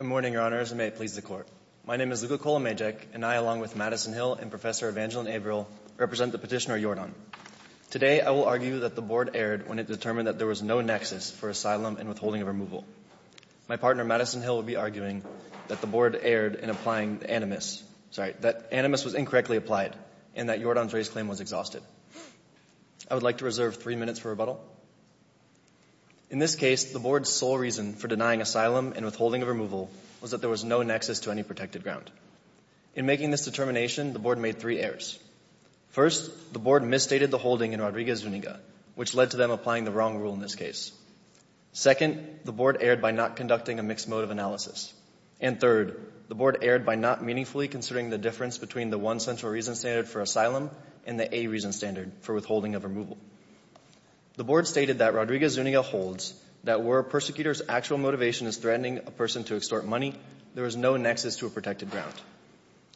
Good morning, Your Honors, and may it please the Court. My name is Luka Kolomejek, and I, along with Madison Hill and Professor Evangeline Averill, represent the petitioner, Yordan. Today, I will argue that the Board erred when it determined that there was no nexus for asylum and withholding of removal. My partner, Madison Hill, will be arguing that the Board erred in applying the animus sorry, that animus was incorrectly applied, and that Yordan's race claim was exhausted. I would like to reserve three minutes for rebuttal. In this case, the Board's sole reason for denying asylum and withholding of removal was that there was no nexus to any protected ground. In making this determination, the Board made three errors. First, the Board misstated the holding in Rodriguez-Zuniga, which led to them applying the wrong rule in this case. Second, the Board erred by not conducting a mixed mode of analysis. And third, the Board erred by not meaningfully considering the difference between the one central reason standard for asylum and the A reason standard for withholding of removal. The Board stated that Rodriguez-Zuniga holds that where a persecutor's actual motivation is threatening a person to extort money, there is no nexus to a protected ground.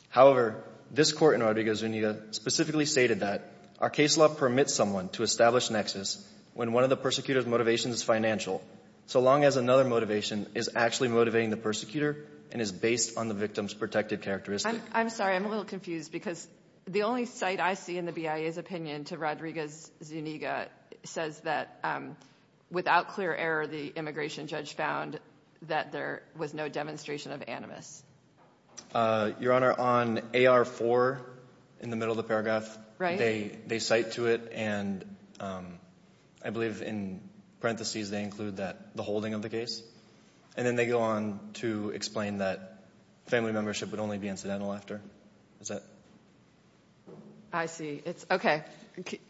However, this court in Rodriguez-Zuniga specifically stated that our case law permits someone to establish nexus when one of the persecutor's motivations is financial, so long as another motivation is actually motivating the persecutor and is based on the victim's protected characteristic. I'm sorry, I'm a little confused because the only cite I see in the BIA's opinion to Rodriguez-Zuniga says that without clear error, the immigration judge found that there was no demonstration of animus. Your Honor, on AR4, in the middle of the paragraph, they cite to it and I believe in parentheses they include the holding of the case. And then they go on to explain that family membership would only be incidental after. Is that? I see. Okay.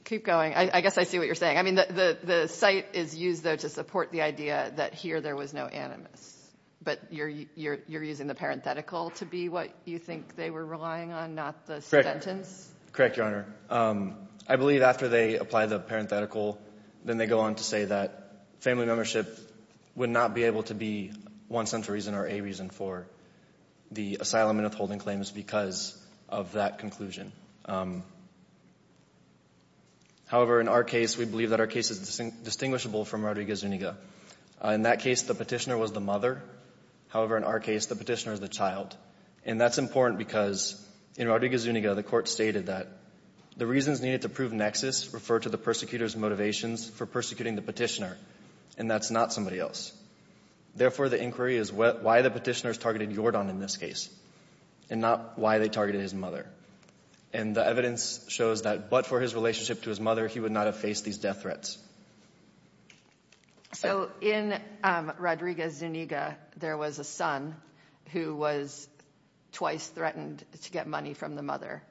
Keep going. I guess I see what you're saying. I mean, the cite is used, though, to support the idea that here there was no animus. But you're using the parenthetical to be what you think they were relying on, not the sentence? Correct, Your Honor. I believe after they apply the parenthetical, then they go on to say that family membership would not be able to be one central reason or a reason for the asylum and withholding claims because of that conclusion. However, in our case, we believe that our case is distinguishable from Rodriguez-Zuniga. In that case, the petitioner was the mother. However, in our case, the petitioner is the child. And that's important because in Rodriguez-Zuniga, the court stated that the reasons needed to prove nexus refer to the persecutor's motivations for persecuting the petitioner, and that's not somebody else. Therefore, the inquiry is why the petitioner is targeting Jordan in this case and not why they targeted his mother. And the evidence shows that but for his relationship to his mother, he would not have faced these death threats. So in Rodriguez-Zuniga, there was a son who was twice threatened to get money from the mother,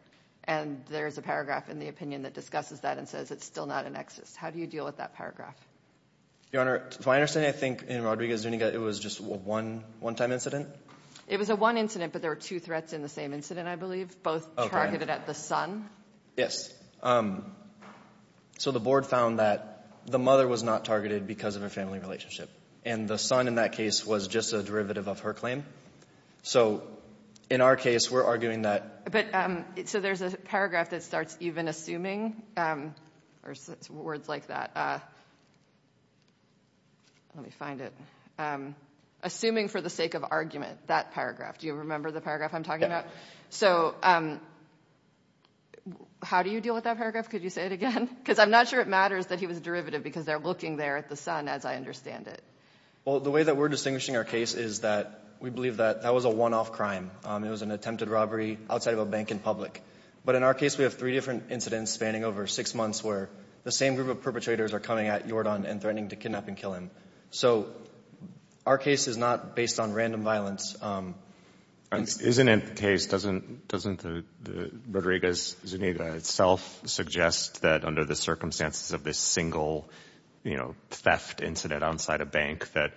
and there's a paragraph in the opinion that discusses that and says it's still not a nexus. How do you deal with that paragraph? Your Honor, to my understanding, I think in Rodriguez-Zuniga, it was just a one-time incident. It was a one incident, but there were two threats in the same incident, I believe, both targeted at the son. Yes. So the board found that the mother was not targeted because of a family relationship, and the son in that case was just a derivative of her claim. So in our case, we're arguing that. But so there's a paragraph that starts even assuming or words like that. Let me find it. Assuming for the sake of argument, that paragraph. Do you remember the paragraph I'm talking about? So how do you deal with that paragraph? Could you say it again? Because I'm not sure it matters that he was a derivative because they're looking there at the son as I understand it. Well, the way that we're distinguishing our case is that we believe that that was a one-off crime. It was an attempted robbery outside of a bank in public. But in our case, we have three different incidents spanning over six months where the same group of perpetrators are coming at Yordan and threatening to kidnap and kill him. So our case is not based on random violence. Isn't it the case, doesn't Rodriguez-Zuniga itself suggest that under the circumstances of this single, you know, theft incident outside a bank that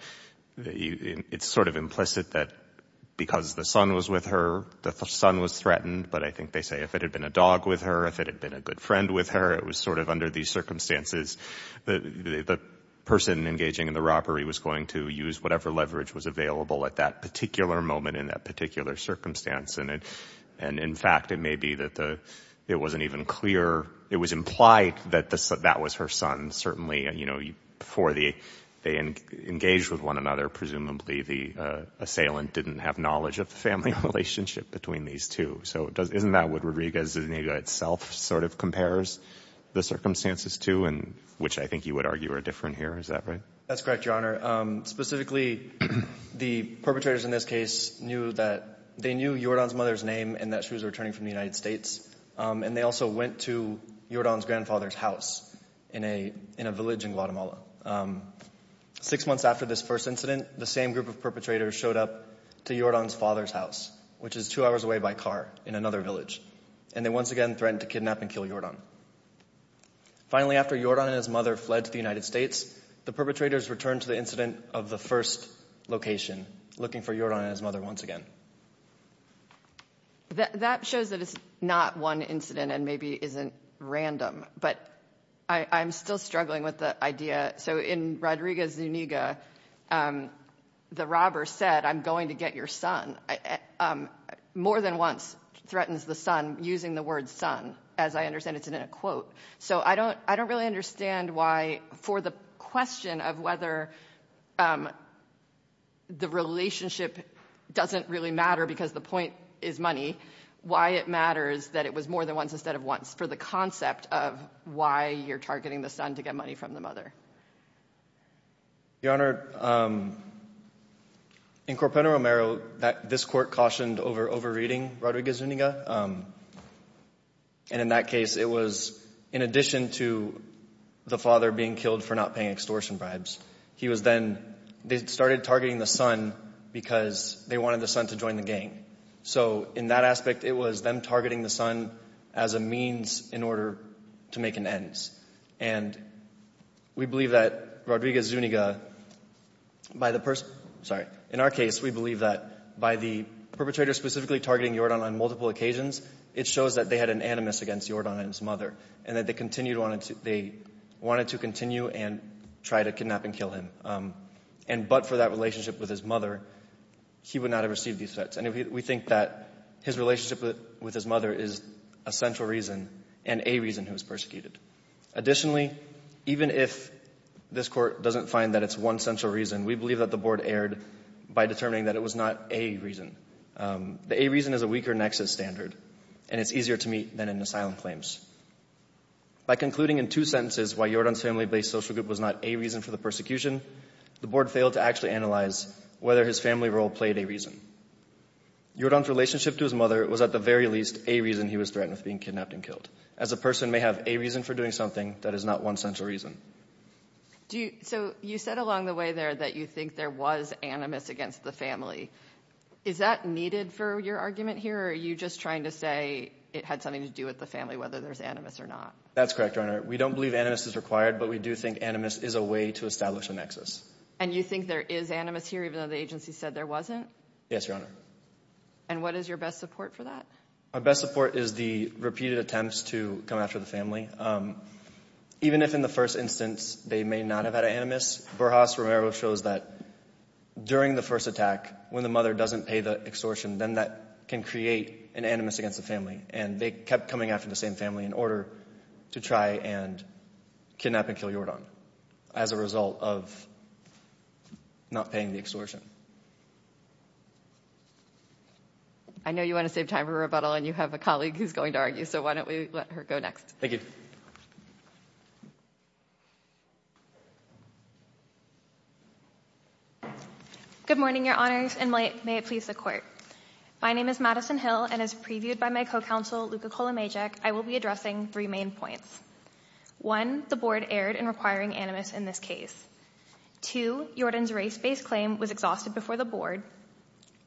it's sort of implicit that because the son was with her, the son was threatened, but I think they say if it had been a dog with her, if it had been a good friend with her, it was sort of under these circumstances. The person engaging in the robbery was going to use whatever leverage was available at that particular moment in that particular circumstance, and in fact, it may be that it wasn't even clear. It was implied that that was her son. Certainly, you know, before they engaged with one another, presumably the assailant didn't have knowledge of the family relationship between these two. So isn't that what Rodriguez-Zuniga itself sort of compares the circumstances to? Which I think you would argue are different here. Is that right? That's correct, Your Honor. Specifically, the perpetrators in this case knew that they knew Yordan's mother's name and that she was returning from the United States, and they also went to Yordan's grandfather's house in a village in Guatemala. Six months after this first incident, the same group of perpetrators showed up to Yordan's father's house, which is two hours away by car in another village, and they once again threatened to kidnap and kill Yordan. Finally, after Yordan and his mother fled to the United States, the perpetrators returned to the incident of the first location, looking for Yordan and his mother once again. That shows that it's not one incident and maybe isn't random, but I'm still struggling with the idea. So in Rodriguez-Zuniga, the robber said, I'm going to get your son. More than once threatens the son using the word son. As I understand, it's in a quote. So I don't really understand why for the question of whether the relationship doesn't really matter because the point is money, why it matters that it was more than once instead of once for the concept of why you're targeting the son to get money from the mother. Your Honor, in Corpeno-Romero, this court cautioned over reading Rodriguez-Zuniga. And in that case, it was in addition to the father being killed for not paying extortion bribes. He was then, they started targeting the son because they wanted the son to join the gang. So in that aspect, it was them targeting the son as a means in order to make an ends. And we believe that Rodriguez-Zuniga, by the person, sorry, in our case, we believe that by the perpetrator specifically targeting Yordan on multiple occasions, it shows that they had an animus against Yordan and his mother and that they wanted to continue and try to kidnap and kill him. And but for that relationship with his mother, he would not have received these threats. And we think that his relationship with his mother is a central reason and a reason he was persecuted. Additionally, even if this court doesn't find that it's one central reason, we believe that the board erred by determining that it was not a reason. The a reason is a weaker nexus standard, and it's easier to meet than an asylum claims. By concluding in two sentences why Yordan's family-based social group was not a reason for the persecution, the board failed to actually analyze whether his family role played a reason. Yordan's relationship to his mother was at the very least a reason he was threatened with being kidnapped and killed. As a person may have a reason for doing something, that is not one central reason. So you said along the way there that you think there was animus against the family. Is that needed for your argument here, or are you just trying to say it had something to do with the family, whether there's animus or not? That's correct, Your Honor. We don't believe animus is required, but we do think animus is a way to establish a nexus. And you think there is animus here, even though the agency said there wasn't? Yes, Your Honor. And what is your best support for that? Our best support is the repeated attempts to come after the family. Even if in the first instance they may not have had animus, Borjas-Romero shows that during the first attack, when the mother doesn't pay the extortion, then that can create an animus against the family. And they kept coming after the same family in order to try and kidnap and kill Jordan as a result of not paying the extortion. I know you want to save time for rebuttal, and you have a colleague who's going to argue, so why don't we let her go next. Thank you. Good morning, Your Honors, and may it please the Court. My name is Madison Hill, and as previewed by my co-counsel, Luka Kolomejek, I will be addressing three main points. One, the Board erred in requiring animus in this case. Two, Jordan's race-based claim was exhausted before the Board.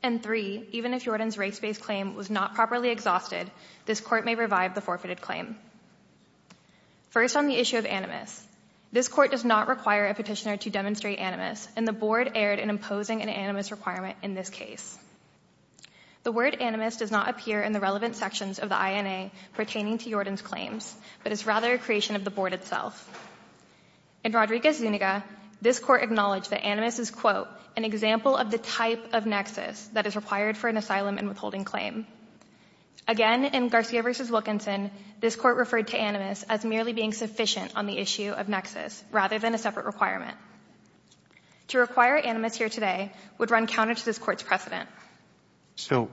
And three, even if Jordan's race-based claim was not properly exhausted, this Court may revive the forfeited claim. First, on the issue of animus. This Court does not require a petitioner to demonstrate animus, and the Board erred in imposing an animus requirement in this case. The word animus does not appear in the relevant sections of the INA pertaining to Jordan's claims, but is rather a creation of the Board itself. In Rodriguez-Zuniga, this Court acknowledged that animus is, quote, an example of the type of nexus that is required for an asylum and withholding claim. Again, in Garcia v. Wilkinson, this Court referred to animus as merely being sufficient on the issue of nexus, rather than a separate requirement. To require animus here today would run counter to this Court's precedent. So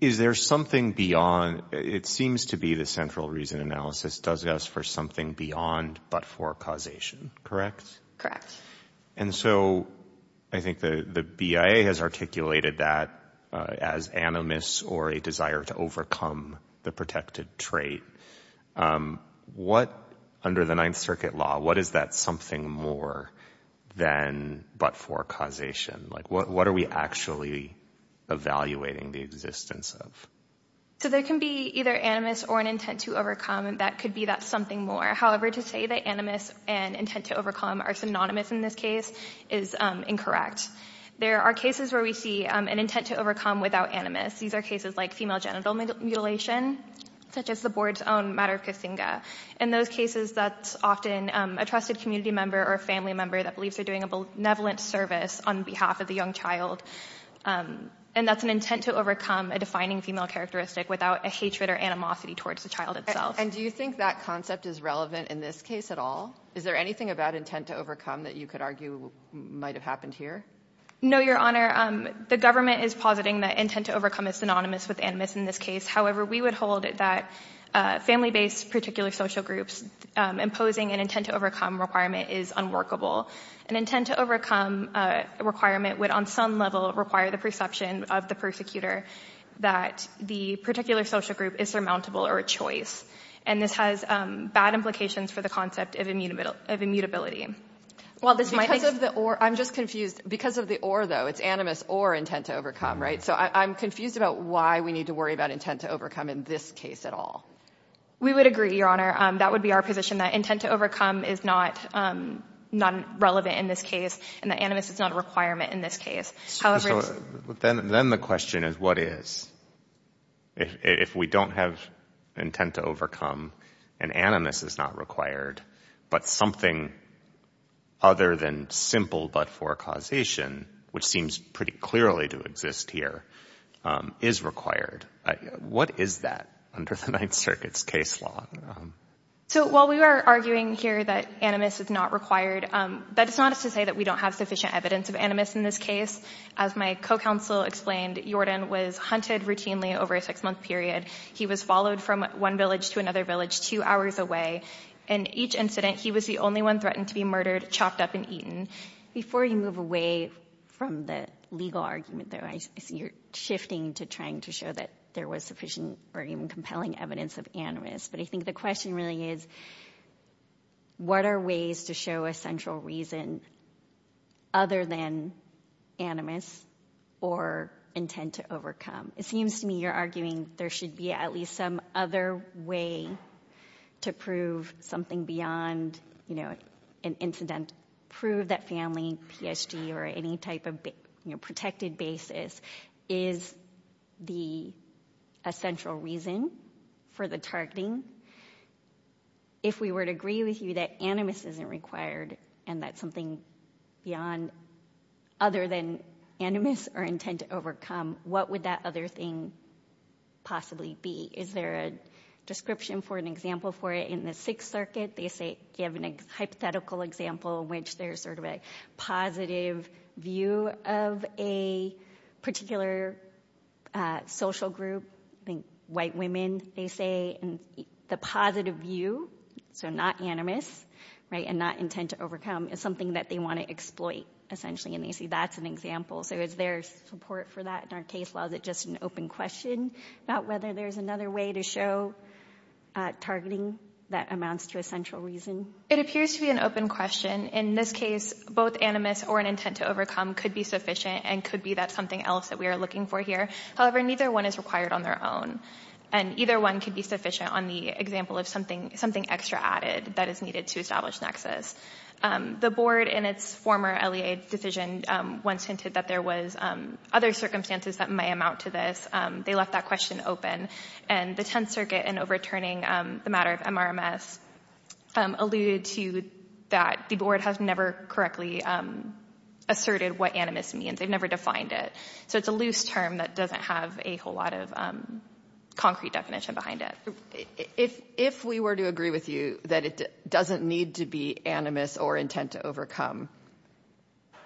is there something beyond? It seems to be the central reason analysis does ask for something beyond but for causation, correct? Correct. And so I think the BIA has articulated that as animus or a desire to overcome the protected trait. Under the Ninth Circuit law, what is that something more than but for causation? What are we actually evaluating the existence of? So there can be either animus or an intent to overcome. That could be that something more. However, to say that animus and intent to overcome are synonymous in this case is incorrect. There are cases where we see an intent to overcome without animus. These are cases like female genital mutilation, such as the Board's own Madara Kasinga. In those cases, that's often a trusted community member or family member that believes they're doing a benevolent service on behalf of the young child. And that's an intent to overcome a defining female characteristic without a hatred or animosity towards the child itself. And do you think that concept is relevant in this case at all? Is there anything about intent to overcome that you could argue might have happened here? No, Your Honor. The government is positing that intent to overcome is synonymous with animus in this case. However, we would hold that family-based particular social groups imposing an intent to overcome requirement is unworkable. An intent to overcome requirement would on some level require the perception of the persecutor that the particular social group is surmountable or a choice. And this has bad implications for the concept of immutability. Because of the or, I'm just confused. Because of the or, though, it's animus or intent to overcome, right? So I'm confused about why we need to worry about intent to overcome in this case at all. We would agree, Your Honor. That would be our position, that intent to overcome is not relevant in this case and that animus is not a requirement in this case. Then the question is, what is? If we don't have intent to overcome and animus is not required, but something other than simple but for causation, which seems pretty clearly to exist here, is required, what is that under the Ninth Circuit's case law? So while we are arguing here that animus is not required, that is not to say that we don't have sufficient evidence of animus in this case. As my co-counsel explained, Jordan was hunted routinely over a six-month period. He was followed from one village to another village two hours away. In each incident, he was the only one threatened to be murdered, chopped up, and eaten. Before you move away from the legal argument, though, I see you're shifting to trying to show that there was sufficient or even compelling evidence of animus. But I think the question really is, what are ways to show a central reason other than animus or intent to overcome? It seems to me you're arguing there should be at least some other way to prove something beyond an incident. Prove that family, PSG, or any type of protected basis is a central reason for the targeting. If we were to agree with you that animus isn't required and that something other than animus or intent to overcome, what would that other thing possibly be? Is there a description or an example for it? In the Sixth Circuit, they give a hypothetical example in which there's a positive view of a particular social group. I think white women, they say, and the positive view, so not animus and not intent to overcome, is something that they want to exploit, essentially. And you see that's an example. So is there support for that in our case? Or is it just an open question about whether there's another way to show targeting that amounts to a central reason? It appears to be an open question. In this case, both animus or an intent to overcome could be sufficient and could be that something else that we are looking for here. However, neither one is required on their own. And either one could be sufficient on the example of something extra added that is needed to establish nexus. The board in its former LEA decision once hinted that there was other circumstances that may amount to this. They left that question open. And the Tenth Circuit, in overturning the matter of MRMS, alluded to that the board has never correctly asserted what animus means. They've never defined it. So it's a loose term that doesn't have a whole lot of concrete definition behind it. If we were to agree with you that it doesn't need to be animus or intent to overcome,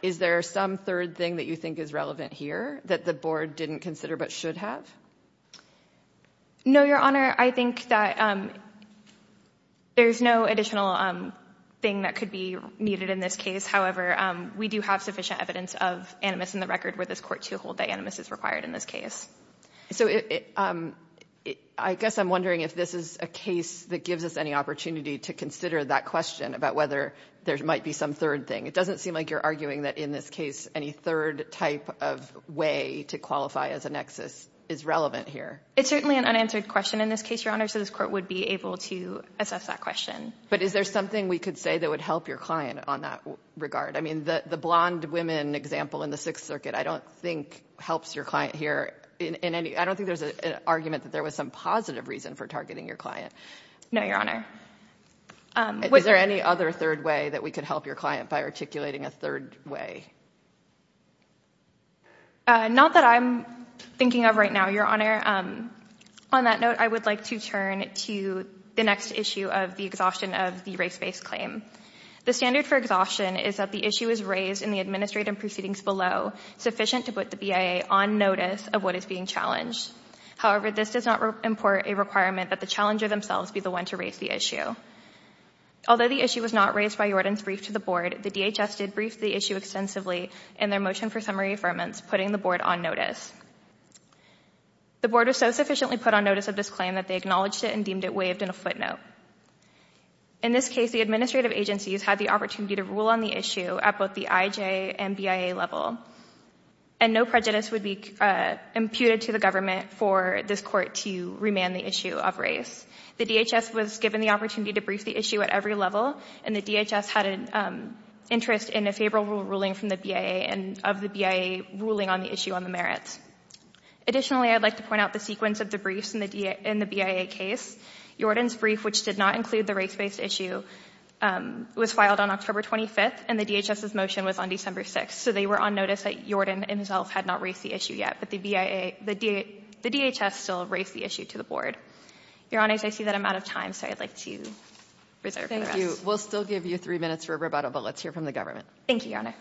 is there some third thing that you think is relevant here that the board didn't consider but should have? No, Your Honor. I think that there's no additional thing that could be needed in this case. However, we do have sufficient evidence of animus in the record where this Court to hold that animus is required in this case. So I guess I'm wondering if this is a case that gives us any opportunity to consider that question about whether there might be some third thing. It doesn't seem like you're arguing that in this case any third type of way to qualify as a nexus is relevant here. It's certainly an unanswered question in this case, Your Honor, so this Court would be able to assess that question. But is there something we could say that would help your client on that regard? I mean, the blonde women example in the Sixth Circuit I don't think helps your client here. I don't think there's an argument that there was some positive reason for targeting your client. No, Your Honor. Is there any other third way that we could help your client by articulating a third way? Not that I'm thinking of right now, Your Honor. On that note, I would like to turn to the next issue of the exhaustion of the race-based claim. The standard for exhaustion is that the issue is raised in the administrative proceedings below sufficient to put the BIA on notice of what is being challenged. However, this does not import a requirement that the challenger themselves be the one to raise the issue. Although the issue was not raised by Yordan's brief to the Board, the DHS did brief the issue extensively in their motion for summary affirmance, putting the Board on notice. The Board was so sufficiently put on notice of this claim that they acknowledged it and deemed it waived in a footnote. In this case, the administrative agencies had the opportunity to rule on the issue at both the IJ and BIA level, and no prejudice would be imputed to the government for this Court to remand the issue of race. The DHS was given the opportunity to brief the issue at every level, and the DHS had an interest in a favorable ruling from the BIA and of the BIA ruling on the issue on the merits. Additionally, I'd like to point out the sequence of the briefs in the BIA case. Yordan's brief, which did not include the race-based issue, was filed on October 25th, and the DHS's motion was on December 6th. So they were on notice that Yordan himself had not raised the issue yet, but the DHS still raised the issue to the Board. Your Honors, I see that I'm out of time, so I'd like to reserve the rest. Thank you. We'll still give you three minutes for a rebuttal, but let's hear from the government. Thank you, Your Honor.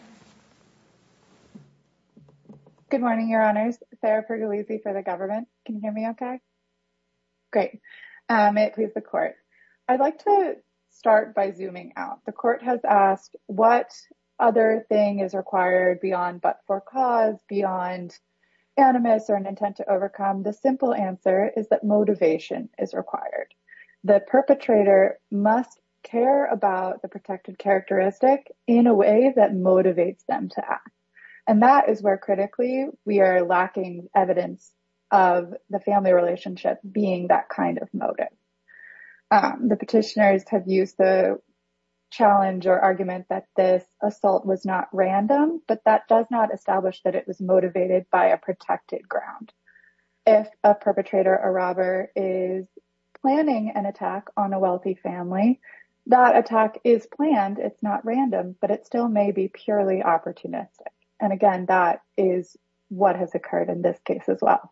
Good morning, Your Honors. Can you hear me okay? Great. May it please the Court. I'd like to start by zooming out. The Court has asked what other thing is required beyond but for cause, beyond animus or an intent to overcome. The simple answer is that motivation is required. The perpetrator must care about the protected characteristic in a way that motivates them to act. And that is where, critically, we are lacking evidence of the family relationship being that kind of motive. The petitioners have used the challenge or argument that this assault was not random, but that does not establish that it was motivated by a protected ground. If a perpetrator or robber is planning an attack on a wealthy family, that attack is planned. It's not random, but it still may be purely opportunistic. And again, that is what has occurred in this case as well.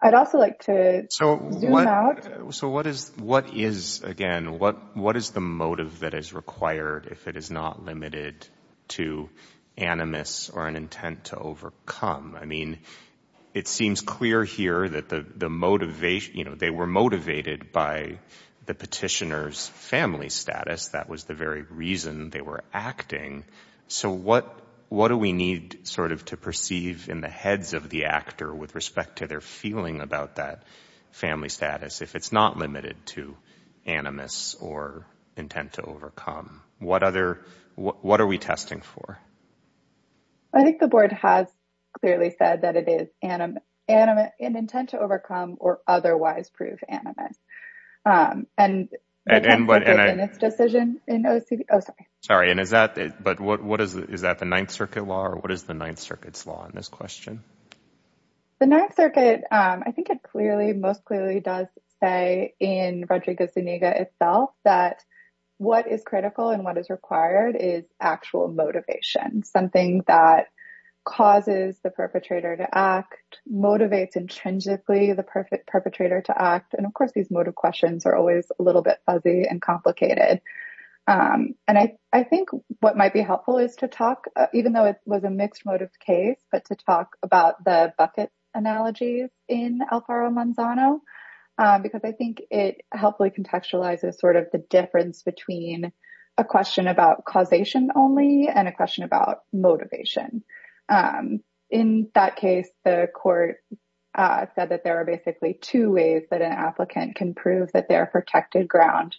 I'd also like to zoom out. So what is, again, what is the motive that is required if it is not limited to animus or an intent to overcome? I mean, it seems clear here that the motivation, you know, they were motivated by the petitioner's family status. That was the very reason they were acting. So what do we need sort of to perceive in the heads of the actor with respect to their feeling about that family status if it's not limited to animus or intent to overcome? What other, what are we testing for? I think the board has clearly said that it is animus, an intent to overcome or otherwise prove animus. And in its decision in OCD. Oh, sorry. And is that but what is that the Ninth Circuit law or what is the Ninth Circuit's law in this question? The Ninth Circuit, I think it clearly, most clearly does say in Rodrigo Zuniga itself that what is critical and what is required is actual motivation. Something that causes the perpetrator to act, motivates intrinsically the perfect perpetrator to act. And of course, these motive questions are always a little bit fuzzy and complicated. And I think what might be helpful is to talk, even though it was a mixed motive case, but to talk about the bucket analogy in Alfaro Manzano, because I think it helpfully contextualizes sort of the difference between a question about causation only and a question about motivation. In that case, the court said that there are basically two ways that an applicant can prove that their protected ground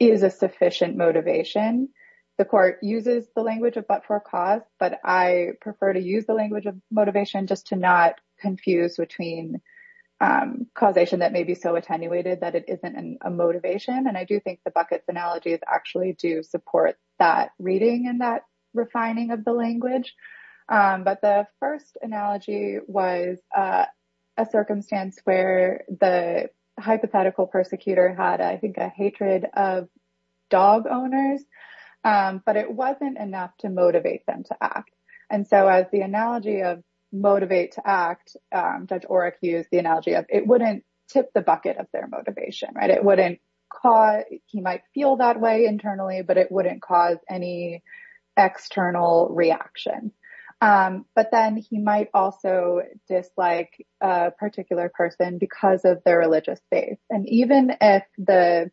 is a sufficient motivation. The court uses the language of but for cause, but I prefer to use the language of motivation just to not confuse between causation that may be so attenuated that it isn't a motivation. And I do think the bucket analogies actually do support that reading and that refining of the language. But the first analogy was a circumstance where the hypothetical persecutor had, I think, a hatred of dog owners, but it wasn't enough to motivate them to act. And so as the analogy of motivate to act, Judge Oreck used the analogy of it wouldn't tip the bucket of their motivation. Right. It wouldn't cause he might feel that way internally, but it wouldn't cause any external reaction. But then he might also dislike a particular person because of their religious faith. And even if the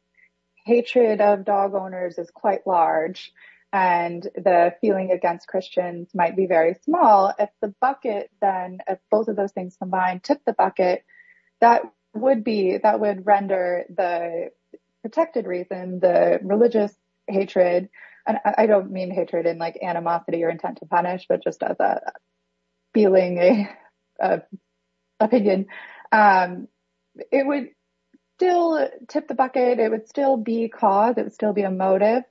hatred of dog owners is quite large and the feeling against Christians might be very small at the bucket, then both of those things combined tip the bucket that would be that would render the protected reason the religious hatred. And I don't mean hatred in like animosity or intent to punish, but just as a feeling of opinion, it would still tip the bucket. It would still be cause. It would still be a motive,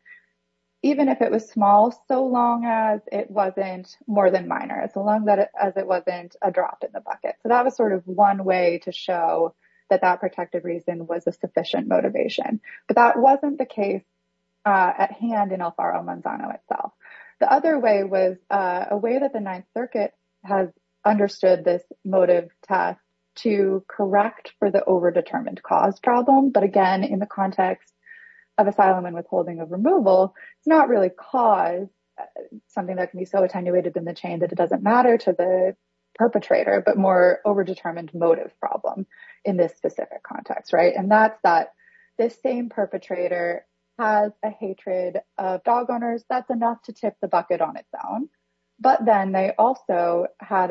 even if it was small, so long as it wasn't more than minor as long as it wasn't a drop in the bucket. So that was sort of one way to show that that protective reason was a sufficient motivation. But that wasn't the case at hand in Alfaro Manzano itself. The other way was a way that the Ninth Circuit has understood this motive task to correct for the overdetermined cause problem. But again, in the context of asylum and withholding of removal, it's not really cause something that can be so attenuated in the chain that it doesn't matter to the perpetrator, but more overdetermined motive problem in this specific context. And that's that this same perpetrator has a hatred of dog owners. That's enough to tip the bucket on its own. But then they also had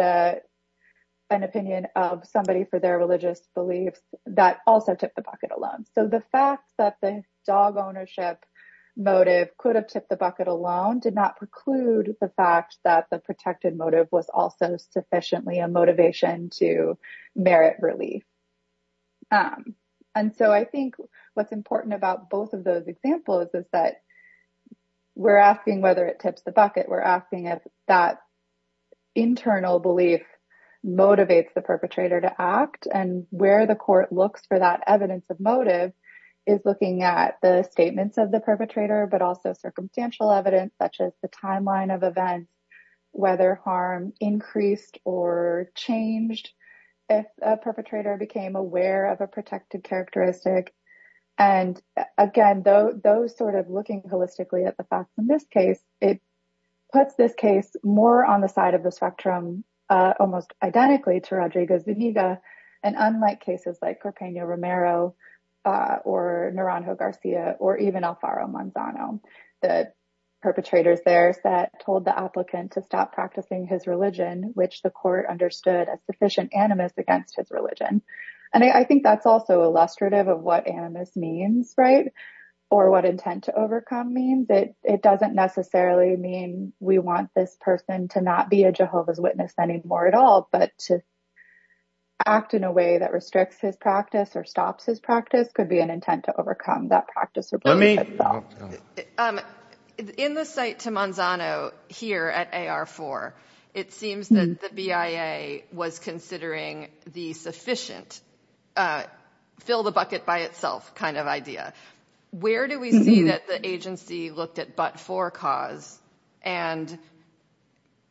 an opinion of somebody for their religious beliefs that also tip the bucket alone. So the fact that the dog ownership motive could have tipped the bucket alone did not preclude the fact that the protected motive was also sufficiently a motivation to merit relief. And so I think what's important about both of those examples is that we're asking whether it tips the bucket. We're asking if that internal belief motivates the perpetrator to act and where the court looks for that evidence of motive is looking at the statements of the perpetrator, but also circumstantial evidence such as the timeline of events, whether harm increased or changed if a perpetrator became aware of a protected characteristic. And again, though, those sort of looking holistically at the facts in this case, it puts this case more on the side of the spectrum, almost identically to Rodrigo Zuniga and unlike cases like Carpeño Romero or Naranjo Garcia or even Alfaro Manzano, the perpetrators there that told the applicant to stop practicing his religion, which the court understood as sufficient animus against his religion. And I think that's also illustrative of what animus means, right, or what intent to overcome means. It doesn't necessarily mean we want this person to not be a Jehovah's Witness anymore at all, but to act in a way that restricts his practice or stops his practice could be an intent to overcome that practice. In the site to Manzano here at AR4, it seems that the BIA was considering the sufficient fill the bucket by itself kind of idea. Where do we see that the agency looked at but for cause? And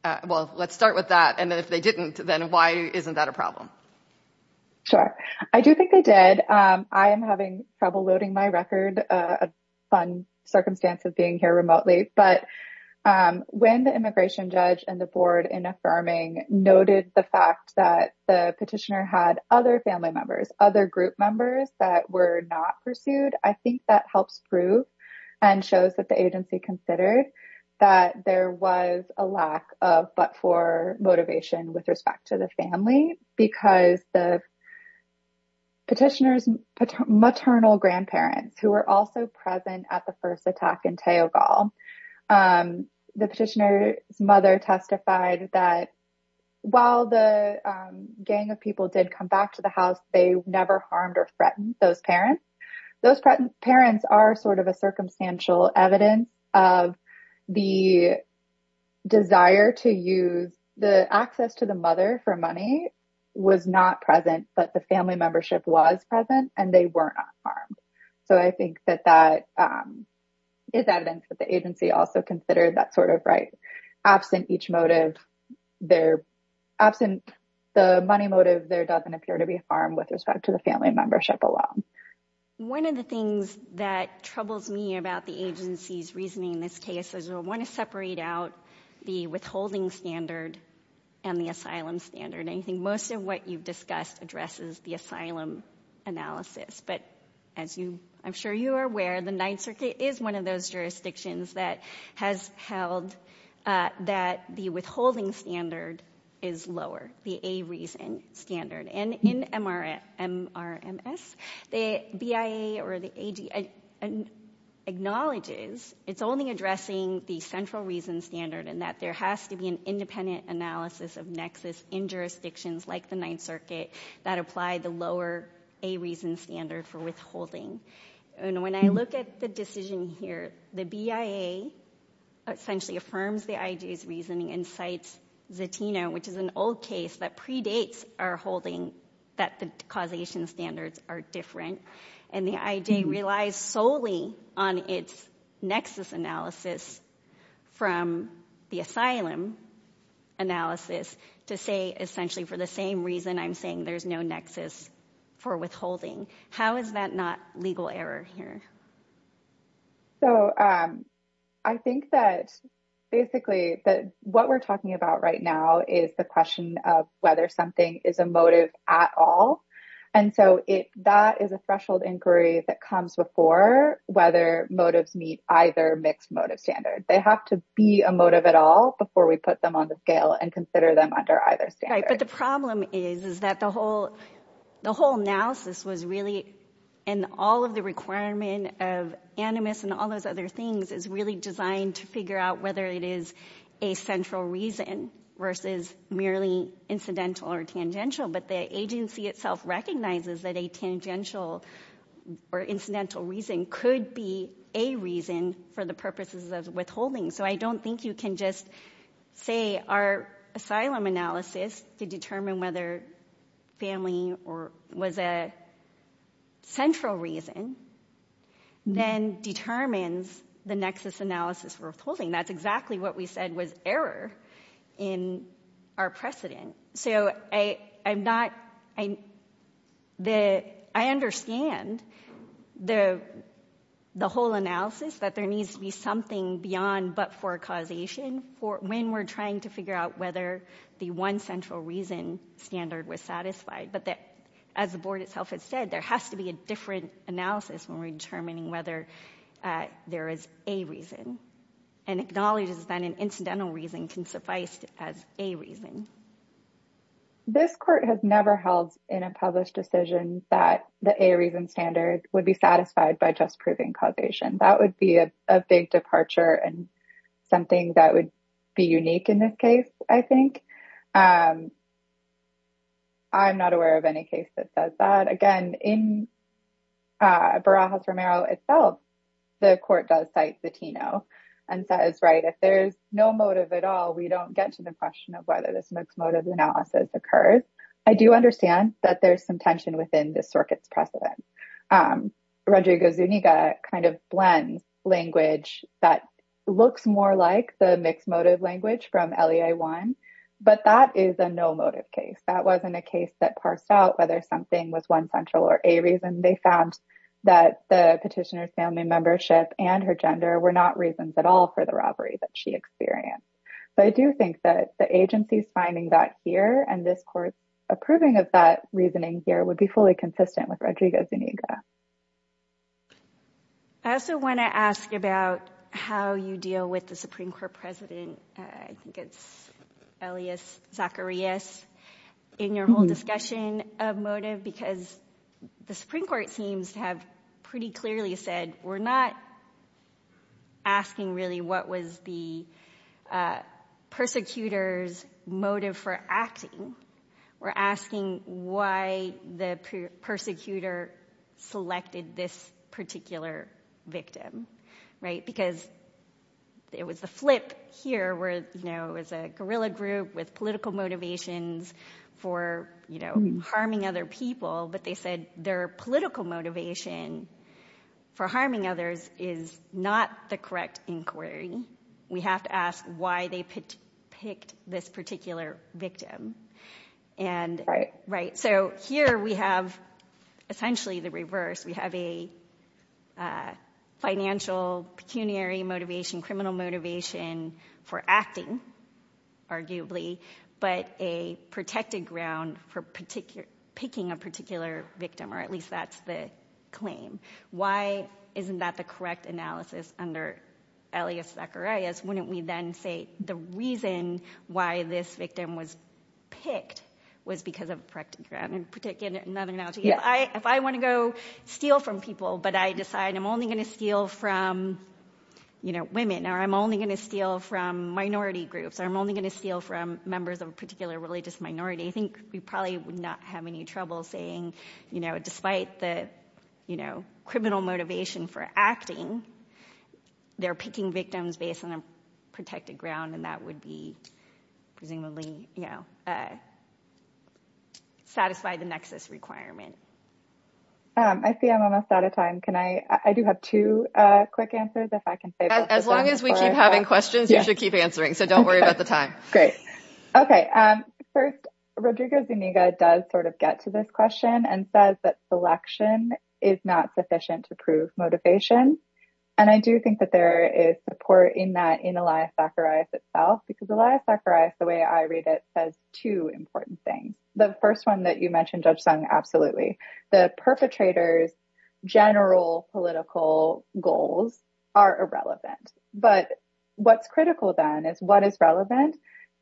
well, let's start with that. And if they didn't, then why isn't that a problem? Sure, I do think they did. I am having trouble loading my record of fun circumstances being here remotely. But when the immigration judge and the board in affirming noted the fact that the petitioner had other family members, other group members that were not pursued, I think that helps prove and shows that the agency considered that there was a lack of but for motivation with respect to the family. Because the petitioner's maternal grandparents who were also present at the first attack in Teogal, the petitioner's mother testified that while the gang of people did come back to the house, they never harmed or threatened those parents. Those parents are sort of a circumstantial evidence of the desire to use the access to the mother for money was not present, but the family membership was present and they were not harmed. So I think that that is evidence that the agency also considered that sort of right. Absent each motive, they're absent, the money motive there doesn't appear to be harmed with respect to the family membership alone. One of the things that troubles me about the agency's reasoning in this case is you'll want to separate out the withholding standard and the asylum standard. I think most of what you've discussed addresses the asylum analysis. But as I'm sure you are aware, the Ninth Circuit is one of those jurisdictions that has held that the withholding standard is lower, the a reason standard. And in MRMS, the BIA or the AG acknowledges it's only addressing the central reason standard and that there has to be an independent analysis of nexus in jurisdictions like the Ninth Circuit that apply the lower a reason standard for withholding. And when I look at the decision here, the BIA essentially affirms the IG's reasoning and cites Zatino, which is an old case that predates our holding that the causation standards are different. And the idea relies solely on its nexus analysis from the asylum analysis to say essentially for the same reason I'm saying there's no nexus for withholding. How is that not legal error here? So I think that basically that what we're talking about right now is the question of whether something is a motive at all. And so that is a threshold inquiry that comes before whether motives meet either mixed motive standard. They have to be a motive at all before we put them on the scale and consider them under either standard. But the problem is, is that the whole the whole analysis was really in all of the requirement of animus and all those other things is really designed to figure out whether it is a central reason versus merely incidental or tangential. But the agency itself recognizes that a tangential or incidental reason could be a reason for the purposes of withholding. So I don't think you can just say our asylum analysis to determine whether family or was a central reason then determines the nexus analysis for withholding. And that's exactly what we said was error in our precedent. So I'm not, I understand the whole analysis that there needs to be something beyond but for causation for when we're trying to figure out whether the one central reason standard was satisfied. But that as the board itself has said, there has to be a different analysis when we're determining whether there is a reason and acknowledges that an incidental reason can suffice as a reason. This court has never held in a published decision that the a reason standard would be satisfied by just proving causation. That would be a big departure and something that would be unique in this case. I think. I'm not aware of any case that does that again in. Barajas Romero itself, the court does cite the Tino and says, right, if there's no motive at all, we don't get to the question of whether this makes motive analysis occurs. I do understand that there's some tension within the circuits precedent. Roger goes, you need to kind of blend language that looks more like the mixed motive language from one. But that is a no motive case. That wasn't a case that parsed out whether something was one central or a reason. They found that the petitioner's family membership and her gender were not reasons at all for the robbery that she experienced. But I do think that the agency's finding that here and this court approving of that reasoning here would be fully consistent with Rodrigo's. I also want to ask you about how you deal with the Supreme Court president. I think it's Elias Zacharias in your whole discussion of motive, because the Supreme Court seems to have pretty clearly said we're not. Asking really what was the persecutors motive for acting. We're asking why the persecutor selected this particular victim. Because it was the flip here where it was a guerrilla group with political motivations for harming other people. But they said their political motivation for harming others is not the correct inquiry. We have to ask why they picked this particular victim. So here we have essentially the reverse. We have a financial pecuniary motivation, criminal motivation for acting, arguably. But a protected ground for picking a particular victim, or at least that's the claim. Why isn't that the correct analysis under Elias Zacharias? Wouldn't we then say the reason why this victim was picked was because of a protected ground? If I want to go steal from people, but I decide I'm only going to steal from women. Or I'm only going to steal from minority groups. Or I'm only going to steal from members of a particular religious minority. I think we probably would not have any trouble saying, despite the criminal motivation for acting, they're picking victims based on a protected ground. And that would be, presumably, satisfy the nexus requirement. I see I'm almost out of time. I do have two quick answers. As long as we keep having questions, you should keep answering. So don't worry about the time. Great. OK, first, Rodrigo Zuniga does sort of get to this question and says that selection is not sufficient to prove motivation. And I do think that there is support in that in Elias Zacharias itself, because Elias Zacharias, the way I read it, says two important things. The first one that you mentioned, Judge Sung, absolutely. The perpetrator's general political goals are irrelevant. But what's critical, then, is what is relevant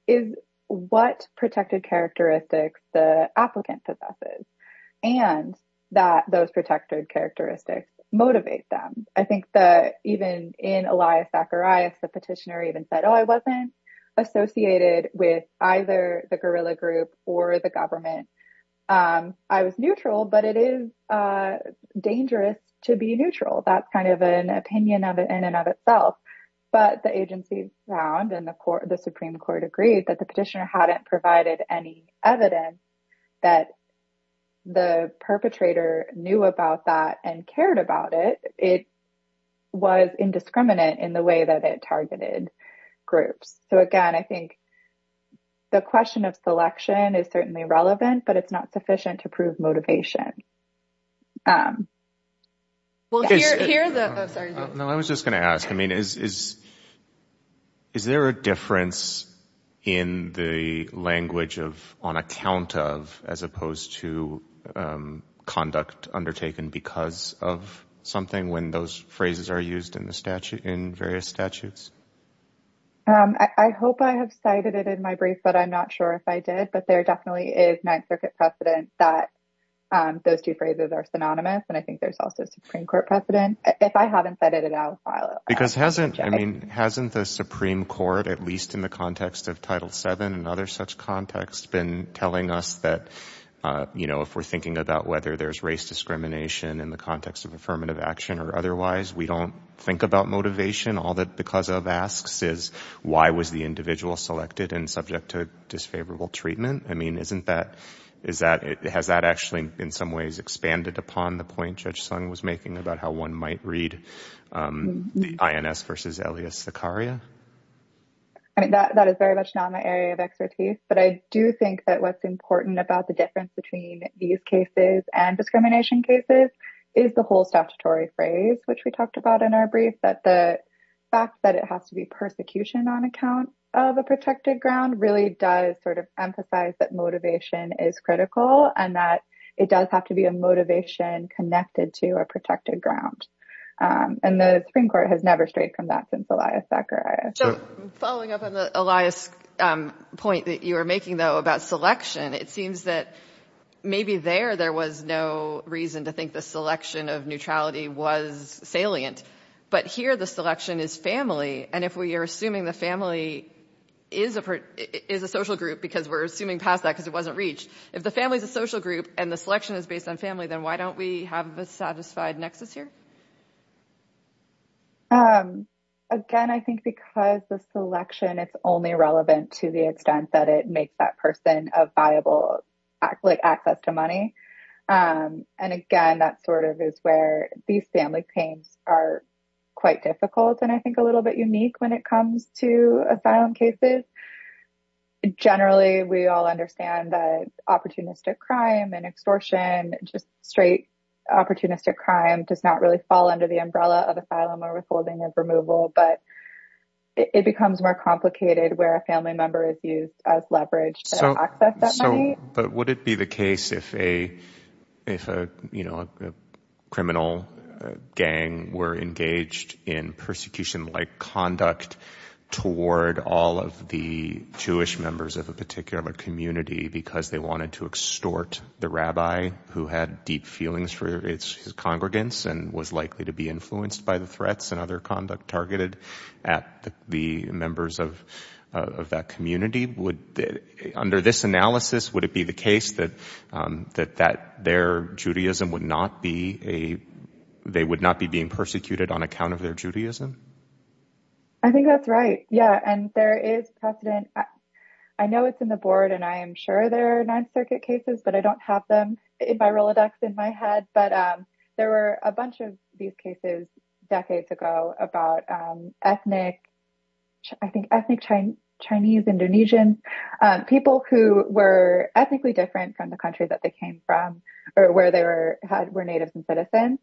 is what protected characteristics the applicant possesses and that those protected characteristics motivate them. I think that even in Elias Zacharias, the petitioner even said, oh, I wasn't associated with either the guerrilla group or the government. I was neutral, but it is dangerous to be neutral. That's kind of an opinion in and of itself. But the agency found and the Supreme Court agreed that the petitioner hadn't provided any evidence that the perpetrator knew about that and cared about it. It was indiscriminate in the way that it targeted groups. So, again, I think the question of selection is certainly relevant, but it's not sufficient to prove motivation. I was just going to ask, I mean, is there a difference in the language of on account of as opposed to conduct undertaken because of something when those phrases are used in the statute in various statutes? I hope I have cited it in my brief, but I'm not sure if I did. But there definitely is Ninth Circuit precedent that those two phrases are synonymous. And I think there's also Supreme Court precedent. If I haven't said it at all. Because hasn't I mean, hasn't the Supreme Court, at least in the context of Title VII and other such contexts, been telling us that, you know, if we're thinking about whether there's race discrimination in the context of affirmative action or otherwise, we don't think about motivation. All that because of asks is why was the individual selected and subject to disfavorable treatment? I mean, isn't that is that it has that actually, in some ways, expanded upon the point Judge Sung was making about how one might read the INS versus Elias Zakaria? I mean, that is very much not my area of expertise, but I do think that what's important about the difference between these cases and discrimination cases is the whole statutory phrase, which we talked about in our brief, that the fact that it has to be persecution on account of a protected ground really does sort of emphasize that motivation is critical and that it does have to be a motivation connected to a protected ground. And the Supreme Court has never strayed from that since Elias Zakaria. So following up on the Elias point that you were making, though, about selection, it seems that maybe there there was no reason to think the selection of neutrality was salient. But here the selection is family. And if we are assuming the family is a social group, because we're assuming past that because it wasn't reached, if the family is a social group and the selection is based on family, then why don't we have a satisfied nexus here? Again, I think because the selection is only relevant to the extent that it makes that person a viable access to money. And again, that sort of is where these family claims are quite difficult and I think a little bit unique when it comes to asylum cases. Generally, we all understand that opportunistic crime and extortion, just straight opportunistic crime does not really fall under the umbrella of asylum or withholding of removal. But it becomes more complicated where a family member is used as leverage to access that money. But would it be the case if a criminal gang were engaged in persecution like conduct toward all of the Jewish members of a particular community because they wanted to extort the rabbi who had deep feelings for his congregants and was likely to be influenced by the threats and other conduct targeted at the members of that community? Under this analysis, would it be the case that they would not be being persecuted on account of their Judaism? I think that's right. Yeah. And there is precedent. I know it's in the board and I am sure there are Ninth Circuit cases, but I don't have them in my Rolodex in my head. But there were a bunch of these cases decades ago about ethnic, I think, ethnic Chinese, Indonesian people who were ethnically different from the country that they came from or where they were were natives and citizens.